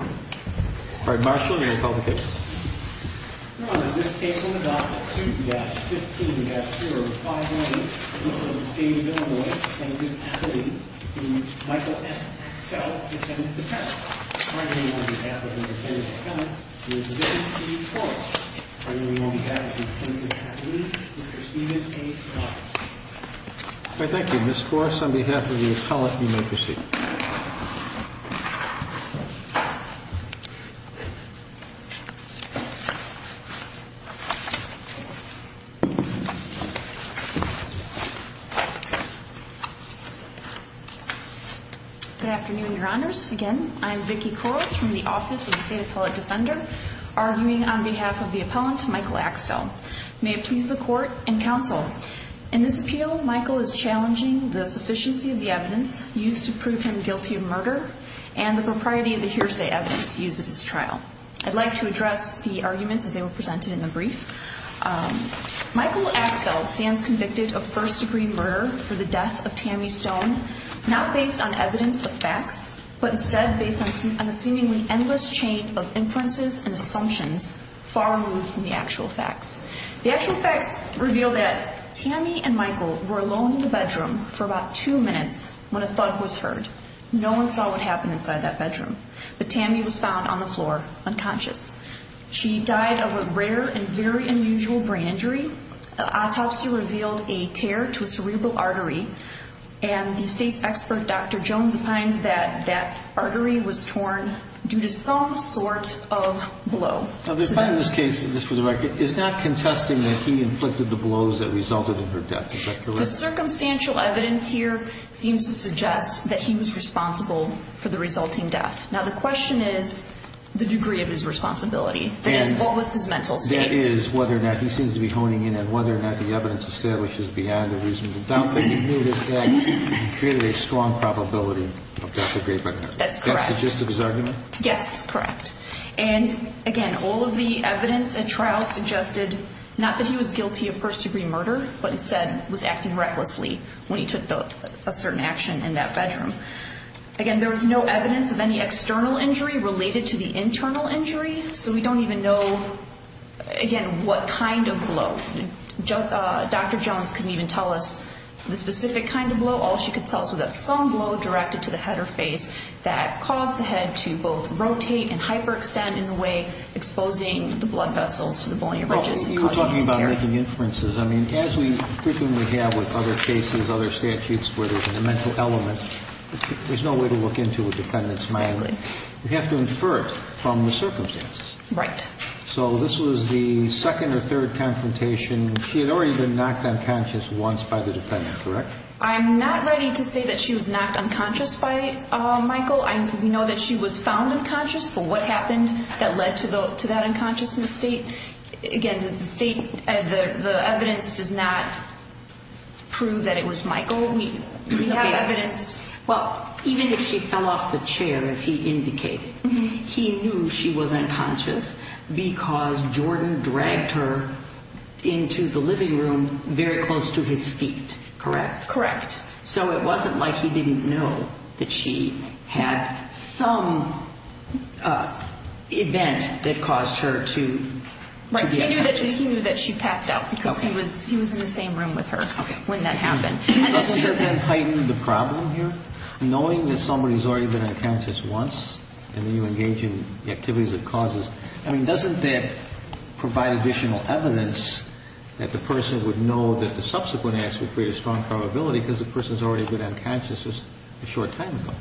All right, Marshall, you're going to call the case. Your Honor, this case on the docket 2-15-0511 in the state of Illinois, Defensive Faculty, Michael S. Axtell, defendant, defendant. Currently on behalf of Mr. David A. Cummings, the defendant, Steve Forrest. Currently on behalf of the Defensive Faculty, Mr. Stephen A. Collins. All right, thank you. Ms. Forrest, on behalf of the appellant, you may proceed. Good afternoon, Your Honors. Again, I'm Vicki Koros from the Office of the State Appellate Defender, arguing on behalf of the appellant, Michael Axtell. May it please the Court and Counsel, in this appeal, Michael is challenging the sufficiency of the evidence used to prove him guilty of murder and the propriety of the hearsay evidence used at his trial. I'd like to address the arguments as they were presented in the brief. Michael Axtell stands convicted of first-degree murder for the death of Tammy Stone, not based on evidence of facts, but instead based on a seemingly endless chain of inferences and assumptions far removed from the actual facts. The actual facts reveal that Tammy and Michael were alone in the bedroom for about two minutes when a thud was heard. No one saw what happened inside that bedroom. But Tammy was found on the floor, unconscious. She died of a rare and very unusual brain injury. An autopsy revealed a tear to a cerebral artery, and the State's expert, Dr. Jones, opined that that artery was torn due to some sort of blow. Now, this part of this case, just for the record, is not contesting that he inflicted the blows that resulted in her death. Is that correct? The circumstantial evidence here seems to suggest that he was responsible for the resulting death. Now, the question is the degree of his responsibility. That is, what was his mental state? That is, whether or not he seems to be honing in, and whether or not the evidence establishes beyond a reasonable doubt that he knew this death and created a strong probability of death or great murder. That's correct. That's the gist of his argument? Yes, correct. And, again, all of the evidence at trial suggested not that he was guilty of first-degree murder, but instead was acting recklessly when he took a certain action in that bedroom. Again, there was no evidence of any external injury related to the internal injury, so we don't even know, again, what kind of blow. Dr. Jones couldn't even tell us the specific kind of blow. All she could tell us was that some blow directed to the head or face that caused the head to both rotate and hyperextend in a way exposing the blood vessels to the bony ridges. You were talking about making inferences. I mean, as we frequently have with other cases, other statutes where there's a mental element, there's no way to look into a defendant's mind. Exactly. We have to infer it from the circumstances. Right. So this was the second or third confrontation. She had already been knocked unconscious once by the defendant, correct? I'm not ready to say that she was knocked unconscious by Michael. We know that she was found unconscious for what happened that led to that unconsciousness state. Again, the evidence does not prove that it was Michael. We have evidence. Well, even if she fell off the chair, as he indicated, he knew she was unconscious because Jordan dragged her into the living room very close to his feet, correct? Correct. So it wasn't like he didn't know that she had some event that caused her to be unconscious. Right. He knew that she passed out because he was in the same room with her when that happened. Okay. Does that then heighten the problem here? Knowing that somebody's already been unconscious once and then you engage in activities of causes, I mean, doesn't that provide additional evidence that the person would know that the subsequent acts would create a strong probability because the person's already been unconscious a short time ago?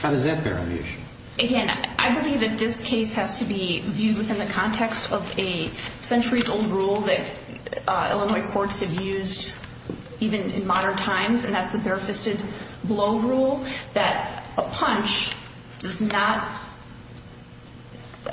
How does that bear on the issue? Again, I believe that this case has to be viewed within the context of a centuries-old rule that Illinois courts have used even in modern times, and that's the bare-fisted blow rule, that a punch does not –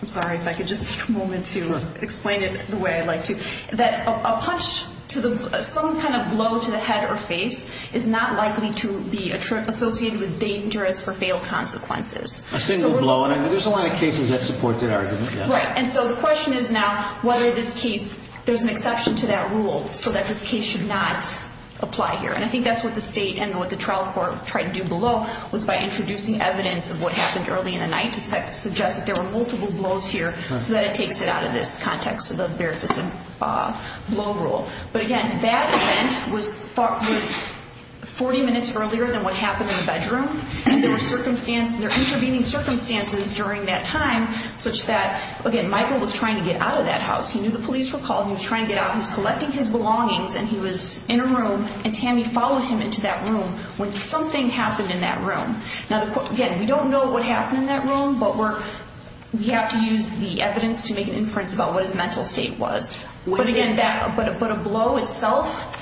I'm sorry if I could just take a moment to explain it the way I'd like to – that a punch to the – some kind of blow to the head or face is not likely to be associated with dangerous or failed consequences. A single blow, and there's a lot of cases that support that argument. Right, and so the question is now whether this case – there's an exception to that rule so that this case should not apply here. And I think that's what the state and what the trial court tried to do below was by introducing evidence of what happened early in the night to suggest that there were multiple blows here so that it takes it out of this context of the bare-fisted blow rule. But again, that event was 40 minutes earlier than what happened in the bedroom, and there were intervening circumstances during that time such that, again, Michael was trying to get out of that house. He knew the police were calling. He was trying to get out. He was collecting his belongings, and he was in a room, and Tammy followed him into that room when something happened in that room. Now, again, we don't know what happened in that room, but we have to use the evidence to make an inference about what his mental state was. But again, a blow itself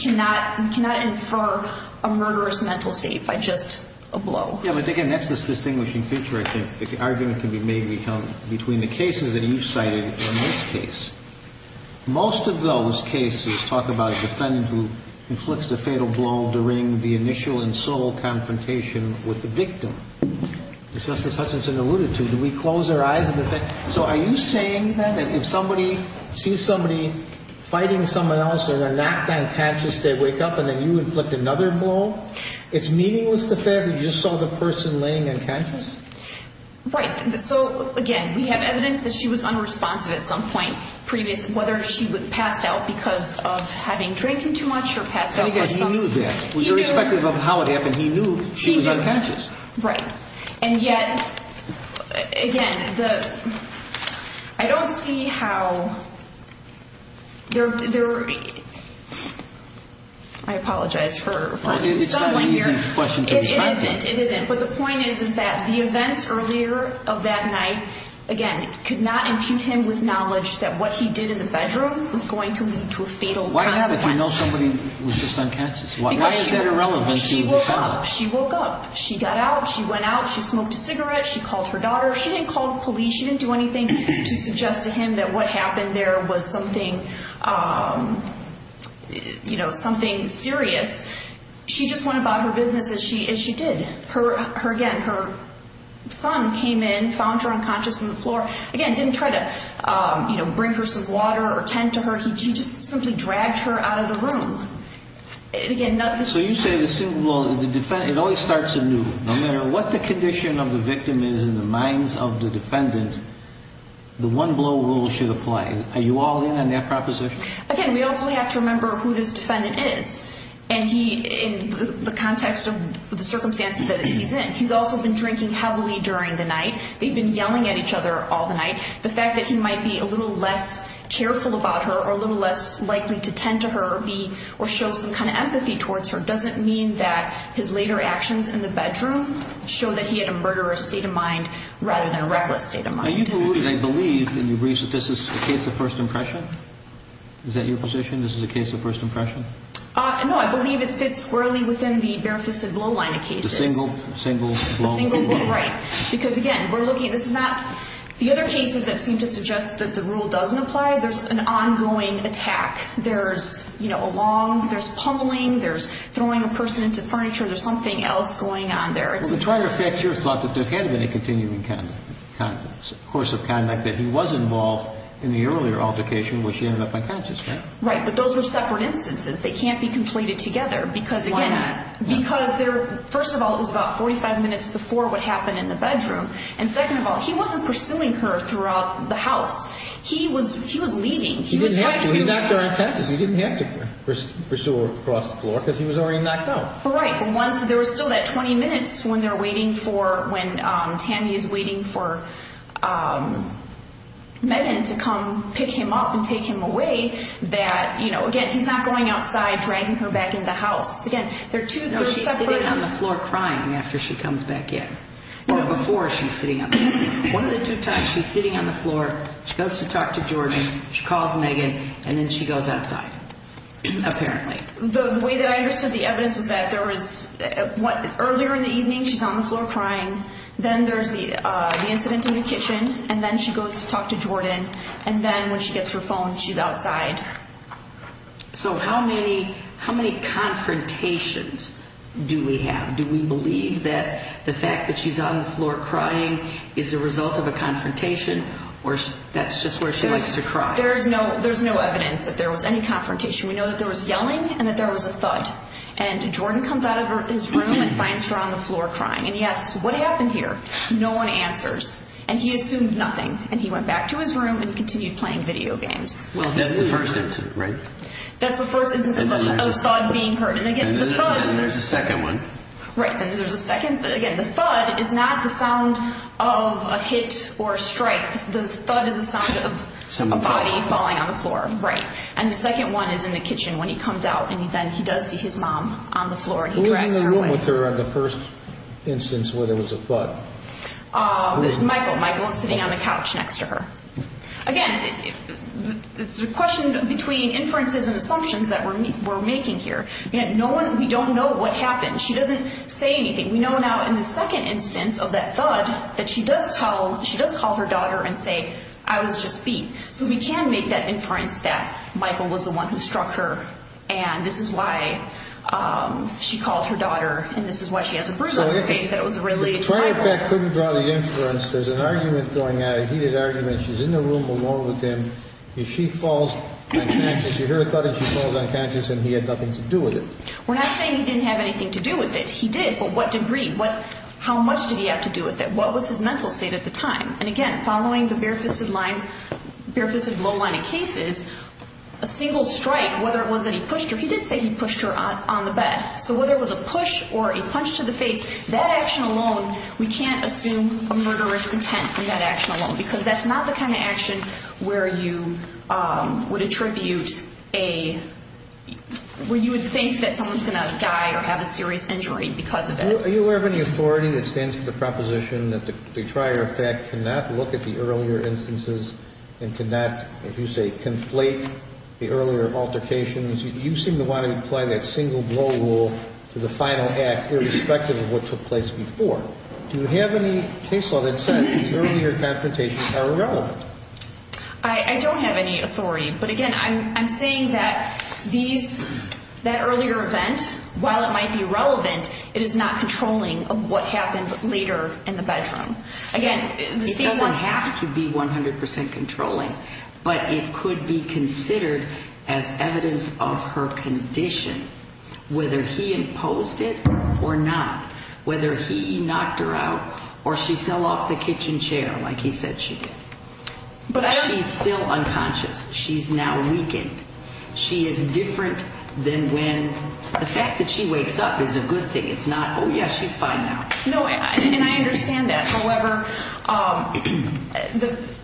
cannot infer a murderous mental state by just a blow. Yeah, but again, that's this distinguishing feature, I think, that the argument can be made between the cases that you cited and this case. Most of those cases talk about a defendant who inflicts the fatal blow during the initial and sole confrontation with the victim. As Justice Hutchinson alluded to, do we close our eyes in the face? So are you saying that if somebody sees somebody fighting someone else and they're not unconscious, they wake up and then you inflict another blow? It's meaningless to say that you saw the person laying unconscious? Right. So, again, we have evidence that she was unresponsive at some point previous, whether she passed out because of having drank too much or passed out for something. And again, he knew that. He knew. Irrespective of how it happened, he knew she was unconscious. Right. And yet, again, I don't see how there are—I apologize for— It's not an easy question to be asked. It isn't, it isn't. But the point is, is that the events earlier of that night, again, could not impute him with knowledge that what he did in the bedroom was going to lead to a fatal consequence. Why have it if you know somebody was just unconscious? Why is that irrelevant if you saw it? She woke up. She got out. She went out. She smoked a cigarette. She called her daughter. She didn't call the police. She didn't do anything to suggest to him that what happened there was something serious. She just went about her business as she did. Again, her son came in, found her unconscious on the floor. Again, didn't try to bring her some water or tend to her. He just simply dragged her out of the room. So you say the single blow, it always starts anew. No matter what the condition of the victim is in the minds of the defendant, the one-blow rule should apply. Are you all in on that proposition? Again, we also have to remember who this defendant is. And he, in the context of the circumstances that he's in, he's also been drinking heavily during the night. They've been yelling at each other all the night. The fact that he might be a little less careful about her or a little less likely to tend to her or show some kind of empathy towards her doesn't mean that his later actions in the bedroom show that he had a murderous state of mind rather than a reckless state of mind. Are you concluded, I believe, that this is a case of first impression? Is that your position, this is a case of first impression? No, I believe it fits squarely within the bare-fisted blow line of cases. The single blow rule. The single blow rule, right. Because, again, we're looking, this is not, the other cases that seem to suggest that the rule doesn't apply, there's an ongoing attack. There's, you know, along, there's pummeling, there's throwing a person into furniture, there's something else going on there. Well, to try to affect your thought, that there had been a continuing conduct, course of conduct that he was involved in the earlier altercation where she ended up unconscious. Right, but those were separate instances. They can't be completed together because, again, Why not? Because there, first of all, it was about 45 minutes before what happened in the bedroom. And second of all, he wasn't pursuing her throughout the house. He was leaving, he was trying to He didn't have to, he knocked her on her tenses. He didn't have to pursue her across the floor because he was already knocked out. Right, but once, there was still that 20 minutes when they're waiting for, when Tammy is waiting for Megan to come pick him up and take him away, that, you know, again, he's not going outside, dragging her back into the house. Again, they're two separate No, she's sitting on the floor crying after she comes back in. Or before she's sitting on the floor. One of the two times she's sitting on the floor, she goes to talk to Jordan, she calls Megan, and then she goes outside, apparently. The way that I understood the evidence was that there was, earlier in the evening she's on the floor crying, then there's the incident in the kitchen, and then she goes to talk to Jordan, and then when she gets her phone, she's outside. So how many confrontations do we have? Do we believe that the fact that she's on the floor crying is a result of a confrontation, or that's just where she likes to cry? There's no evidence that there was any confrontation. We know that there was yelling and that there was a thud. And Jordan comes out of his room and finds her on the floor crying. And he asks, what happened here? No one answers. And he assumed nothing. And he went back to his room and continued playing video games. Well, that's the first instance, right? That's the first instance of a thud being heard. And again, the thud And there's a second one. Right, and there's a second. Again, the thud is not the sound of a hit or a strike. The thud is the sound of a body falling on the floor. Right. And the second one is in the kitchen when he comes out, and then he does see his mom on the floor, and he drags her away. Who was in the room with her on the first instance where there was a thud? Michael. Michael was sitting on the couch next to her. Again, it's a question between inferences and assumptions that we're making here. We don't know what happened. She doesn't say anything. We know now in the second instance of that thud that she does tell, she does call her daughter and say, I was just beat. So we can make that inference that Michael was the one who struck her, and this is why she called her daughter, and this is why she has a bruise on her face, that it was related to Michael. So if the client in fact couldn't draw the inference, there's an argument going on. A heated argument. She's in the room alone with him, and she falls unconscious. You hear a thud, and she falls unconscious, and he had nothing to do with it. We're not saying he didn't have anything to do with it. He did, but what degree? How much did he have to do with it? What was his mental state at the time? And again, following the bare-fisted low-lying cases, a single strike, whether it was that he pushed her, he did say he pushed her on the bed. So whether it was a push or a punch to the face, that action alone, we can't assume a murderous intent from that action alone because that's not the kind of action where you would attribute a – Are you aware of any authority that stands for the proposition that the trier of fact cannot look at the earlier instances and cannot, if you say, conflate the earlier altercations? You seem to want to apply that single blow rule to the final act, irrespective of what took place before. Do you have any case law that says the earlier confrontations are irrelevant? I don't have any authority, but again, I'm saying that these – it is not controlling of what happened later in the bedroom. Again, the state wants – It doesn't have to be 100 percent controlling, but it could be considered as evidence of her condition, whether he imposed it or not, whether he knocked her out or she fell off the kitchen chair like he said she did. She's still unconscious. She's now weakened. She is different than when – the fact that she wakes up is a good thing. It's not, oh, yeah, she's fine now. No, and I understand that. However,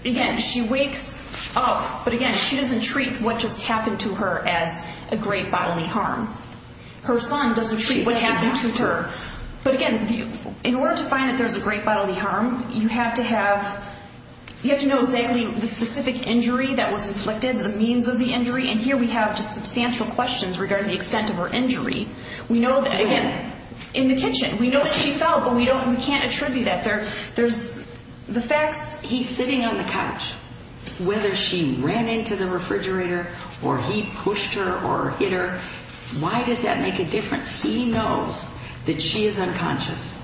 again, she wakes up, but again, she doesn't treat what just happened to her as a great bodily harm. Her son doesn't treat what happened to her. But again, in order to find that there's a great bodily harm, you have to have – you have to know exactly the specific injury that was inflicted, the means of the injury, and here we have just substantial questions regarding the extent of her injury. We know that, again, in the kitchen, we know that she fell, but we don't – we can't attribute that. There's – the facts – he's sitting on the couch. Whether she ran into the refrigerator or he pushed her or hit her, why does that make a difference? He knows that she is unconscious,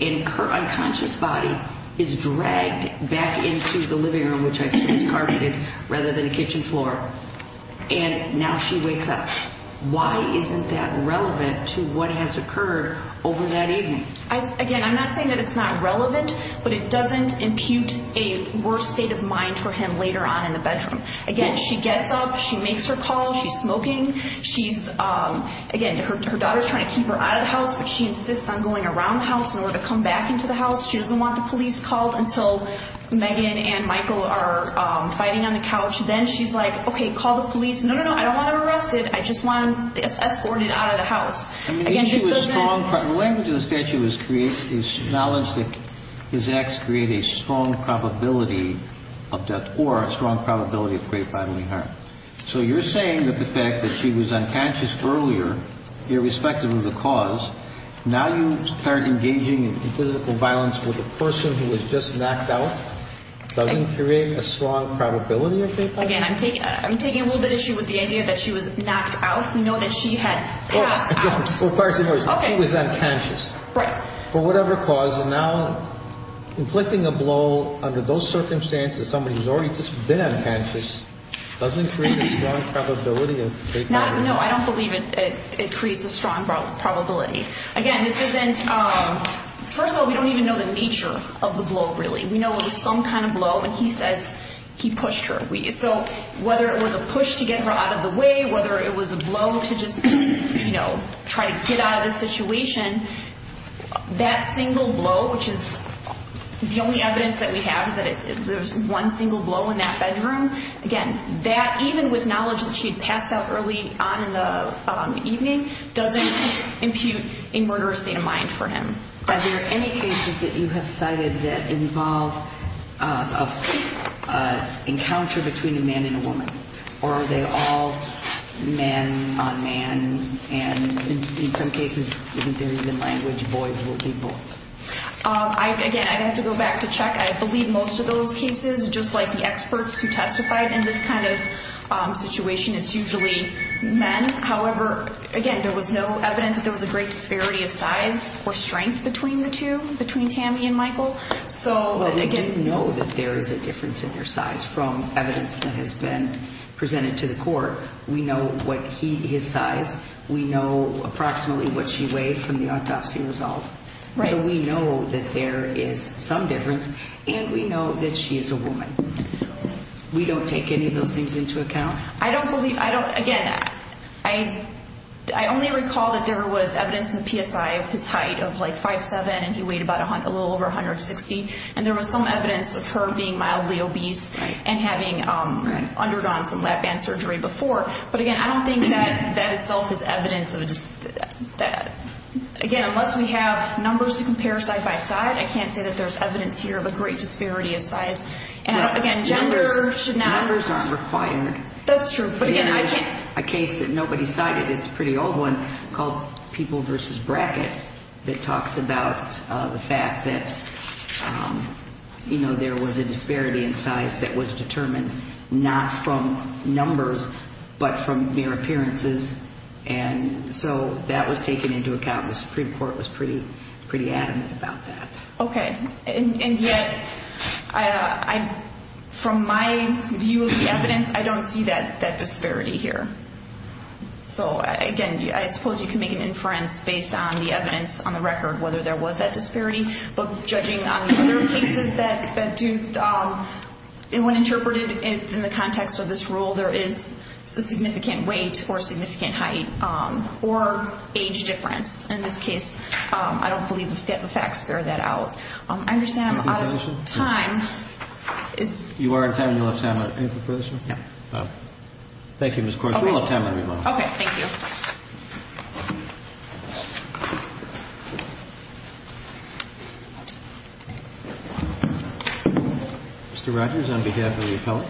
and her unconscious body is dragged back into the living room, which I assume is carpeted, rather than a kitchen floor. And now she wakes up. Why isn't that relevant to what has occurred over that evening? Again, I'm not saying that it's not relevant, but it doesn't impute a worse state of mind for him later on in the bedroom. Again, she gets up. She makes her call. She's smoking. She's – again, her daughter's trying to keep her out of the house, but she insists on going around the house in order to come back into the house. She doesn't want the police called until Megan and Michael are fighting on the couch. Then she's like, okay, call the police. No, no, no, I don't want him arrested. I just want him escorted out of the house. Again, she doesn't – The language in the statute is knowledge that his acts create a strong probability of death or a strong probability of great bodily harm. So you're saying that the fact that she was unconscious earlier, irrespective of the cause, now you start engaging in physical violence with a person who was just knocked out doesn't create a strong probability of great bodily harm? Again, I'm taking a little bit of issue with the idea that she was knocked out. We know that she had passed out. Okay. She was unconscious. Right. For whatever cause, and now inflicting a blow under those circumstances, somebody who's already just been unconscious, doesn't create a strong probability of great bodily harm. No, I don't believe it creates a strong probability. Again, this isn't – First of all, we don't even know the nature of the blow, really. We know it was some kind of blow, and he says he pushed her. So whether it was a push to get her out of the way, whether it was a blow to just, you know, try to get out of the situation, that single blow, which is the only evidence that we have, is that there was one single blow in that bedroom. Again, that, even with knowledge that she had passed out early on in the evening, doesn't impute a murderous state of mind for him. Are there any cases that you have cited that involve an encounter between a man and a woman? Or are they all man on man, and in some cases, isn't there even language, boys will be boys? Again, I'd have to go back to check. I believe most of those cases, just like the experts who testified in this kind of situation, it's usually men. However, again, there was no evidence that there was a great disparity of size or strength between the two, between Tammy and Michael. Well, they didn't know that there is a difference in their size from evidence that has been presented to the court. We know his size. We know approximately what she weighed from the autopsy result. So we know that there is some difference, and we know that she is a woman. We don't take any of those things into account. Again, I only recall that there was evidence in the PSI of his height of like 5'7", and he weighed a little over 160, and there was some evidence of her being mildly obese and having undergone some lap band surgery before. But again, I don't think that that itself is evidence. Again, unless we have numbers to compare side by side, I can't say that there's evidence here of a great disparity of size. Numbers aren't required. That's true. There's a case that nobody cited. It's a pretty old one called People v. Brackett that talks about the fact that, you know, there was a disparity in size that was determined not from numbers but from mere appearances. And so that was taken into account. The Supreme Court was pretty adamant about that. Okay. And yet, from my view of the evidence, I don't see that disparity here. So again, I suppose you can make an inference based on the evidence on the record, whether there was that disparity. But judging on the other cases that do, when interpreted in the context of this rule, there is a significant weight or significant height or age difference. In this case, I don't believe the facts bear that out. I understand I'm out of time. You are in time and you left time. Any further questions? Yeah. Thank you, Ms. Corsi. We're out of time, everyone. Okay. Thank you. Mr. Rogers, on behalf of the appellate.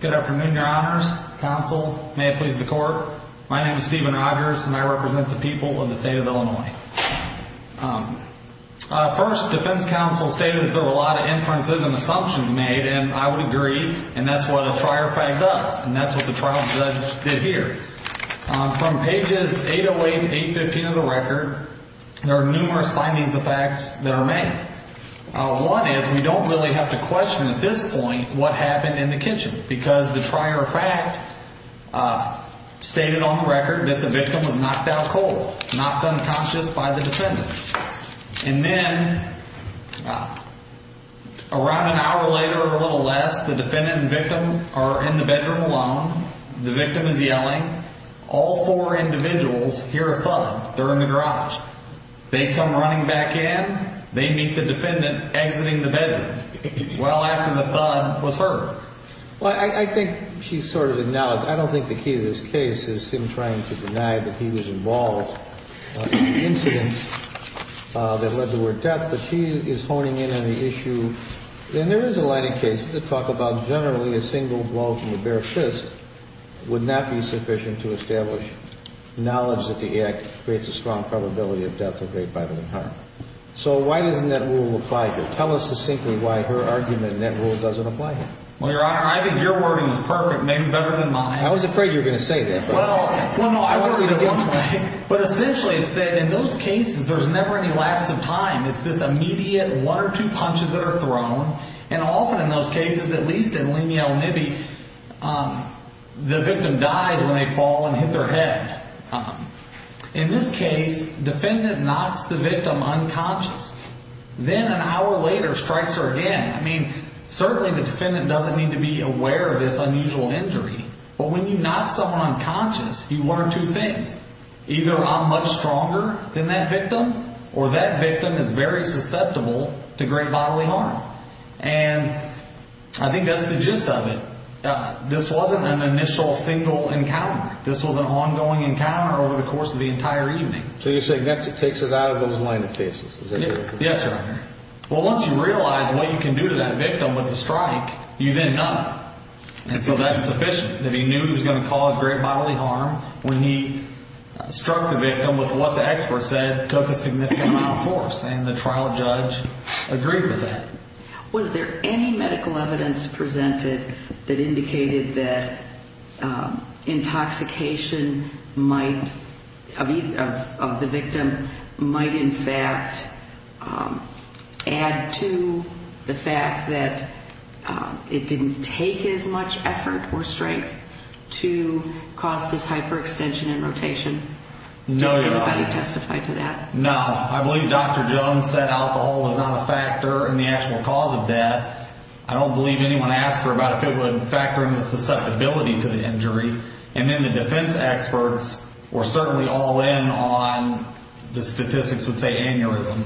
Good afternoon, Your Honors. Counsel. May it please the Court. My name is Stephen Rogers, and I represent the people of the state of Illinois. First, defense counsel stated that there were a lot of inferences and assumptions made, and I would agree, and that's what a trier fact does. And that's what the trial judge did here. From pages 808 to 815 of the record, there are numerous findings of facts that are made. One is we don't really have to question at this point what happened in the kitchen, because the trier fact stated on the record that the victim was knocked out cold, knocked unconscious by the defendant. And then around an hour later or a little less, the defendant and victim are in the bedroom alone. The victim is yelling. All four individuals hear a thud. They're in the garage. They come running back in. They meet the defendant exiting the bedroom. Well after the thud was heard. Well, I think she sort of acknowledged. I don't think the key to this case is him trying to deny that he was involved in the incidents that led to her death, but she is honing in on the issue. And there is a line of cases that talk about generally a single blow from the bare fist would not be sufficient to establish knowledge that the act creates a strong probability of death or great bodily harm. So why doesn't that rule apply here? Tell us succinctly why her argument in that rule doesn't apply here. Well, Your Honor, I think your wording is perfect, maybe better than mine. I was afraid you were going to say that. Well, no, I heard you the wrong way. But essentially it's that in those cases there's never any lapse of time. It's this immediate one or two punches that are thrown. And often in those cases, at least in Lenielle Nibby, the victim dies when they fall and hit their head. In this case, defendant knocks the victim unconscious. Then an hour later strikes her again. I mean, certainly the defendant doesn't need to be aware of this unusual injury. But when you knock someone unconscious, you learn two things. Either I'm much stronger than that victim or that victim is very susceptible to great bodily harm. And I think that's the gist of it. This wasn't an initial single encounter. This was an ongoing encounter over the course of the entire evening. So you're saying that takes it out of those line of cases? Yes, Your Honor. Well, once you realize what you can do to that victim with a strike, you then knock. And so that's sufficient, that he knew he was going to cause great bodily harm when he struck the victim with what the expert said took a significant amount of force. And the trial judge agreed with that. Was there any medical evidence presented that indicated that intoxication might, of the victim, might in fact add to the fact that it didn't take as much effort or strength to cause this hyperextension and rotation? No, Your Honor. Did anybody testify to that? No. I believe Dr. Jones said alcohol was not a factor in the actual cause of death. I don't believe anyone asked her about if it would factor in the susceptibility to the injury. And then the defense experts were certainly all in on the statistics would say aneurysm.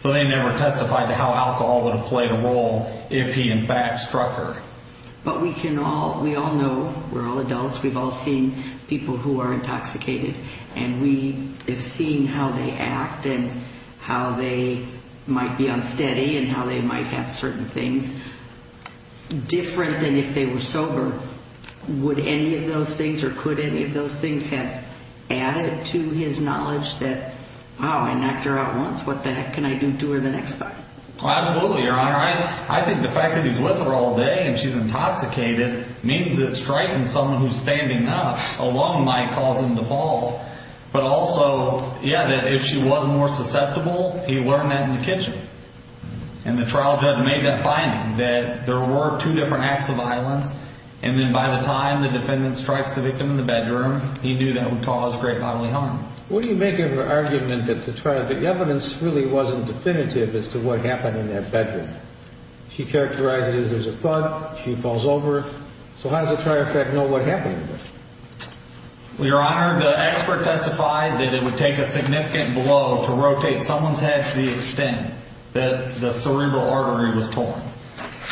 So they never testified to how alcohol would have played a role if he in fact struck her. But we can all, we all know, we're all adults, we've all seen people who are intoxicated. And we have seen how they act and how they might be unsteady and how they might have certain things different than if they were sober. Would any of those things or could any of those things have added to his knowledge that, wow, I knocked her out once, what the heck can I do to her the next time? Absolutely, Your Honor. I think the fact that he's with her all day and she's intoxicated means that striking someone who's standing up alone might cause them to fall. But also, yeah, that if she was more susceptible, he learned that in the kitchen. And the trial judge made that finding that there were two different acts of violence. And then by the time the defendant strikes the victim in the bedroom, he knew that would cause great bodily harm. What do you make of her argument that the trial, the evidence really wasn't definitive as to what happened in that bedroom? She characterized it as a thud, she falls over. So how does the trial judge know what happened? Well, Your Honor, the expert testified that it would take a significant blow to rotate someone's head to the extent that the cerebral artery was torn.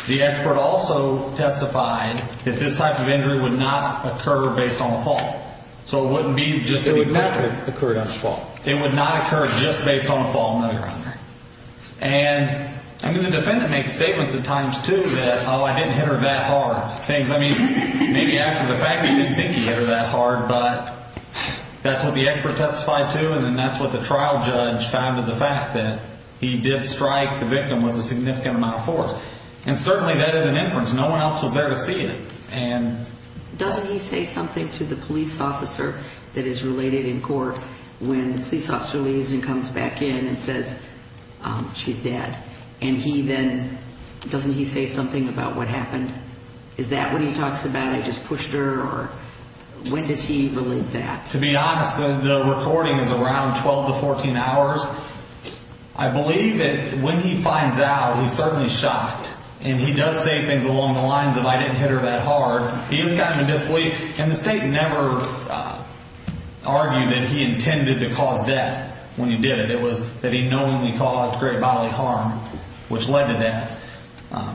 The expert also testified that this type of injury would not occur based on a fall. So it wouldn't be just a fall. It would not occur just based on a fall, no, Your Honor. And I mean, the defendant makes statements at times, too, that, oh, I didn't hit her that hard. I mean, maybe after the fact, he didn't think he hit her that hard. But that's what the expert testified to, and that's what the trial judge found as a fact, that he did strike the victim with a significant amount of force. And certainly that is an inference. No one else was there to see it. Doesn't he say something to the police officer that is related in court when the police officer leaves and comes back in and says, she's dead? And he then, doesn't he say something about what happened? Is that what he talks about, I just pushed her, or when does he relate that? To be honest, the recording is around 12 to 14 hours. I believe that when he finds out, he's certainly shocked. And he does say things along the lines of, I didn't hit her that hard. He is kind of disbelief, and the state never argued that he intended to cause death when he did it. It was that he knowingly caused great bodily harm, which led to death.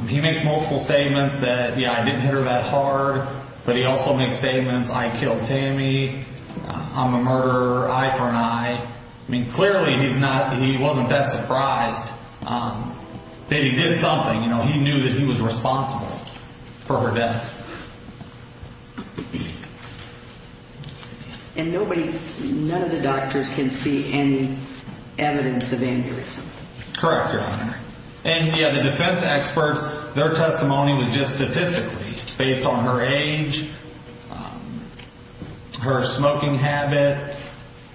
He makes multiple statements that, yeah, I didn't hit her that hard. But he also makes statements, I killed Tammy, I'm a murderer, eye for an eye. I mean, clearly he's not, he wasn't that surprised that he did something. He knew that he was responsible for her death. And nobody, none of the doctors can see any evidence of anger or something. Correct, Your Honor. And yeah, the defense experts, their testimony was just statistically based on her age, her smoking habit.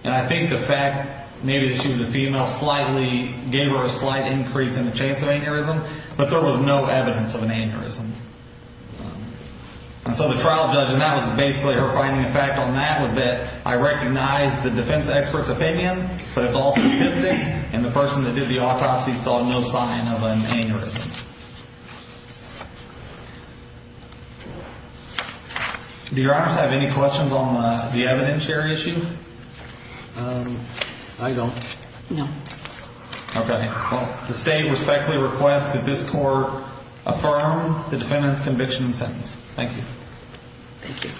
And I think the fact maybe that she was a female slightly gave her a slight increase in the chance of aneurysm. But there was no evidence of an aneurysm. And so the trial judge, and that was basically her finding of fact on that was that I recognize the defense expert's opinion. But it's all statistics. And the person that did the autopsy saw no sign of an aneurysm. Do Your Honors have any questions on the evidence here issue? I don't. No. Okay. Well, the state respectfully requests that this court affirm the defendant's conviction and sentence. Thank you. Thank you.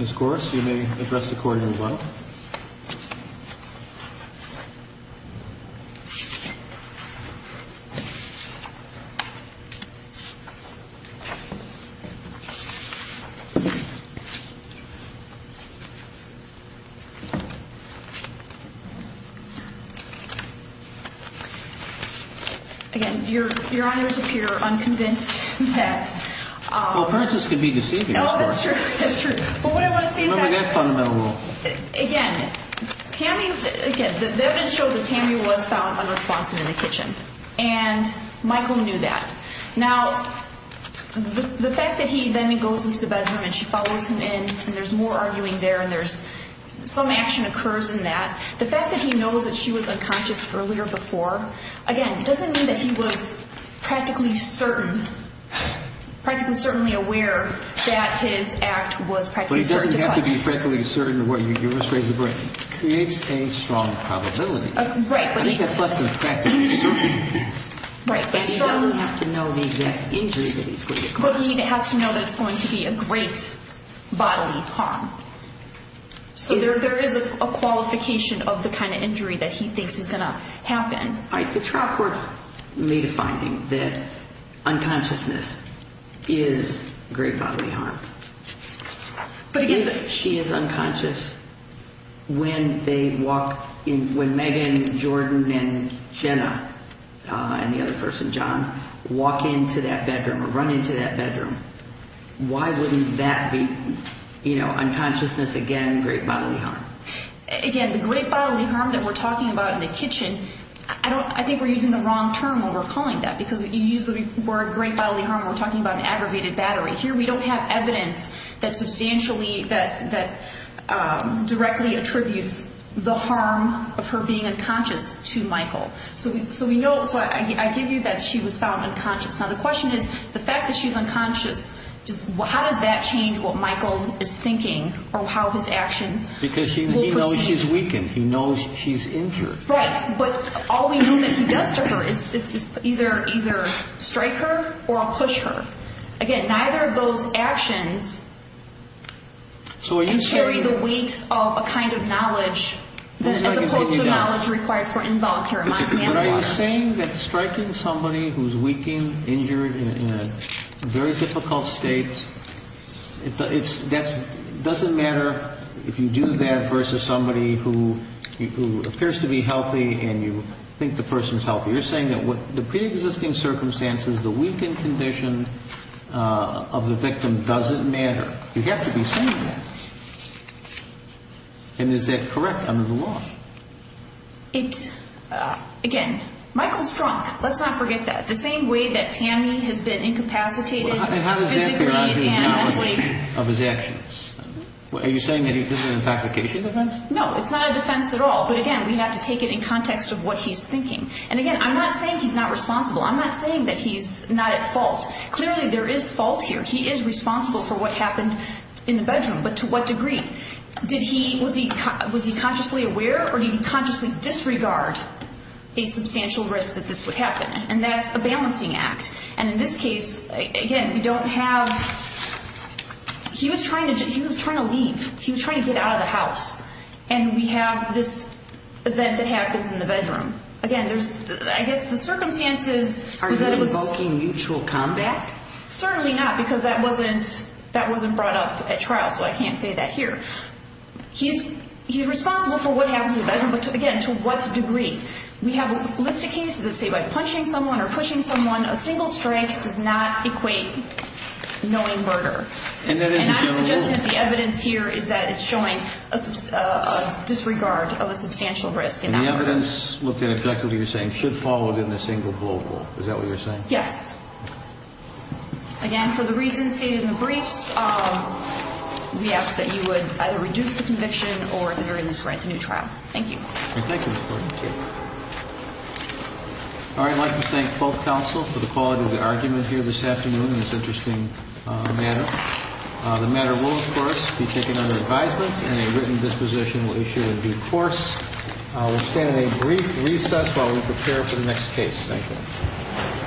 Ms. Gorse, you may address the court here as well. Thank you. Again, Your Honors appear unconvinced that. Well, Francis can be deceiving. Oh, that's true. That's true. But what I want to say is that. Remember that fundamental rule. Again, Tammy. Again, the evidence shows that Tammy was found unresponsive in the kitchen. And Michael knew that. Now, the fact that he then goes into the bedroom and she follows him in and there's more arguing there and there's some action occurs in that. The fact that he knows that she was unconscious earlier before. Again, it doesn't mean that he was practically certain. Practically certainly aware that his act was practically certain. But he doesn't have to be practically certain. You just raised the brain. Creates a strong probability. Right. I think that's less than practically certain. Right. But he doesn't have to know the exact injury that he's going to get. But he has to know that it's going to be a great bodily harm. So there is a qualification of the kind of injury that he thinks is going to happen. All right. The trial court made a finding that unconsciousness is great bodily harm. But again. If she is unconscious, when they walk in, when Megan, Jordan, and Jenna and the other person, John, walk into that bedroom or run into that bedroom, why wouldn't that be, you know, unconsciousness again, great bodily harm? Again, the great bodily harm that we're talking about in the kitchen, I think we're using the wrong term when we're calling that. Because you use the word great bodily harm when we're talking about an aggravated battery. Here we don't have evidence that substantially, that directly attributes the harm of her being unconscious to Michael. So I give you that she was found unconscious. Now the question is, the fact that she's unconscious, how does that change what Michael is thinking or how his actions? Because he knows she's weakened. He knows she's injured. Right. But all we know that he does to her is either strike her or push her. Again, neither of those actions carry the weight of a kind of knowledge as opposed to knowledge required for involuntary manslaughter. But are you saying that striking somebody who's weakened, injured, in a very difficult state, it doesn't matter if you do that versus somebody who appears to be healthy and you think the person's healthy. You're saying that the preexisting circumstances, the weakened condition of the victim doesn't matter. You have to be saying that. And is that correct under the law? It, again, Michael's drunk. Let's not forget that. The same way that Tammy has been incapacitated physically and mentally. How does that depend on his knowledge of his actions? Are you saying that this is an intoxication defense? No, it's not a defense at all. But again, we have to take it in context of what he's thinking. And again, I'm not saying he's not responsible. I'm not saying that he's not at fault. Clearly there is fault here. He is responsible for what happened in the bedroom. But to what degree? Was he consciously aware or did he consciously disregard a substantial risk that this would happen? And that's a balancing act. And in this case, again, we don't have – he was trying to leave. He was trying to get out of the house. And we have this event that happens in the bedroom. Again, I guess the circumstances was that it was – Are you invoking mutual combat? Certainly not because that wasn't brought up at trial, so I can't say that here. He's responsible for what happened in the bedroom. But, again, to what degree? We have a list of cases that say by punching someone or pushing someone, a single strike does not equate knowing murder. And I'm suggesting that the evidence here is that it's showing a disregard of a substantial risk. And the evidence looked at objectively, you're saying, should follow within a single blowhole. Is that what you're saying? Yes. Again, for the reasons stated in the briefs, we ask that you would either reduce the conviction or at the very least grant a new trial. Thank you. Thank you, Ms. Gordon. Thank you. All right, I'd like to thank both counsel for the quality of the argument here this afternoon in this interesting matter. The matter will, of course, be taken under advisement, and a written disposition will be issued in due course. We'll stand in a brief recess while we prepare for the next case. Thank you.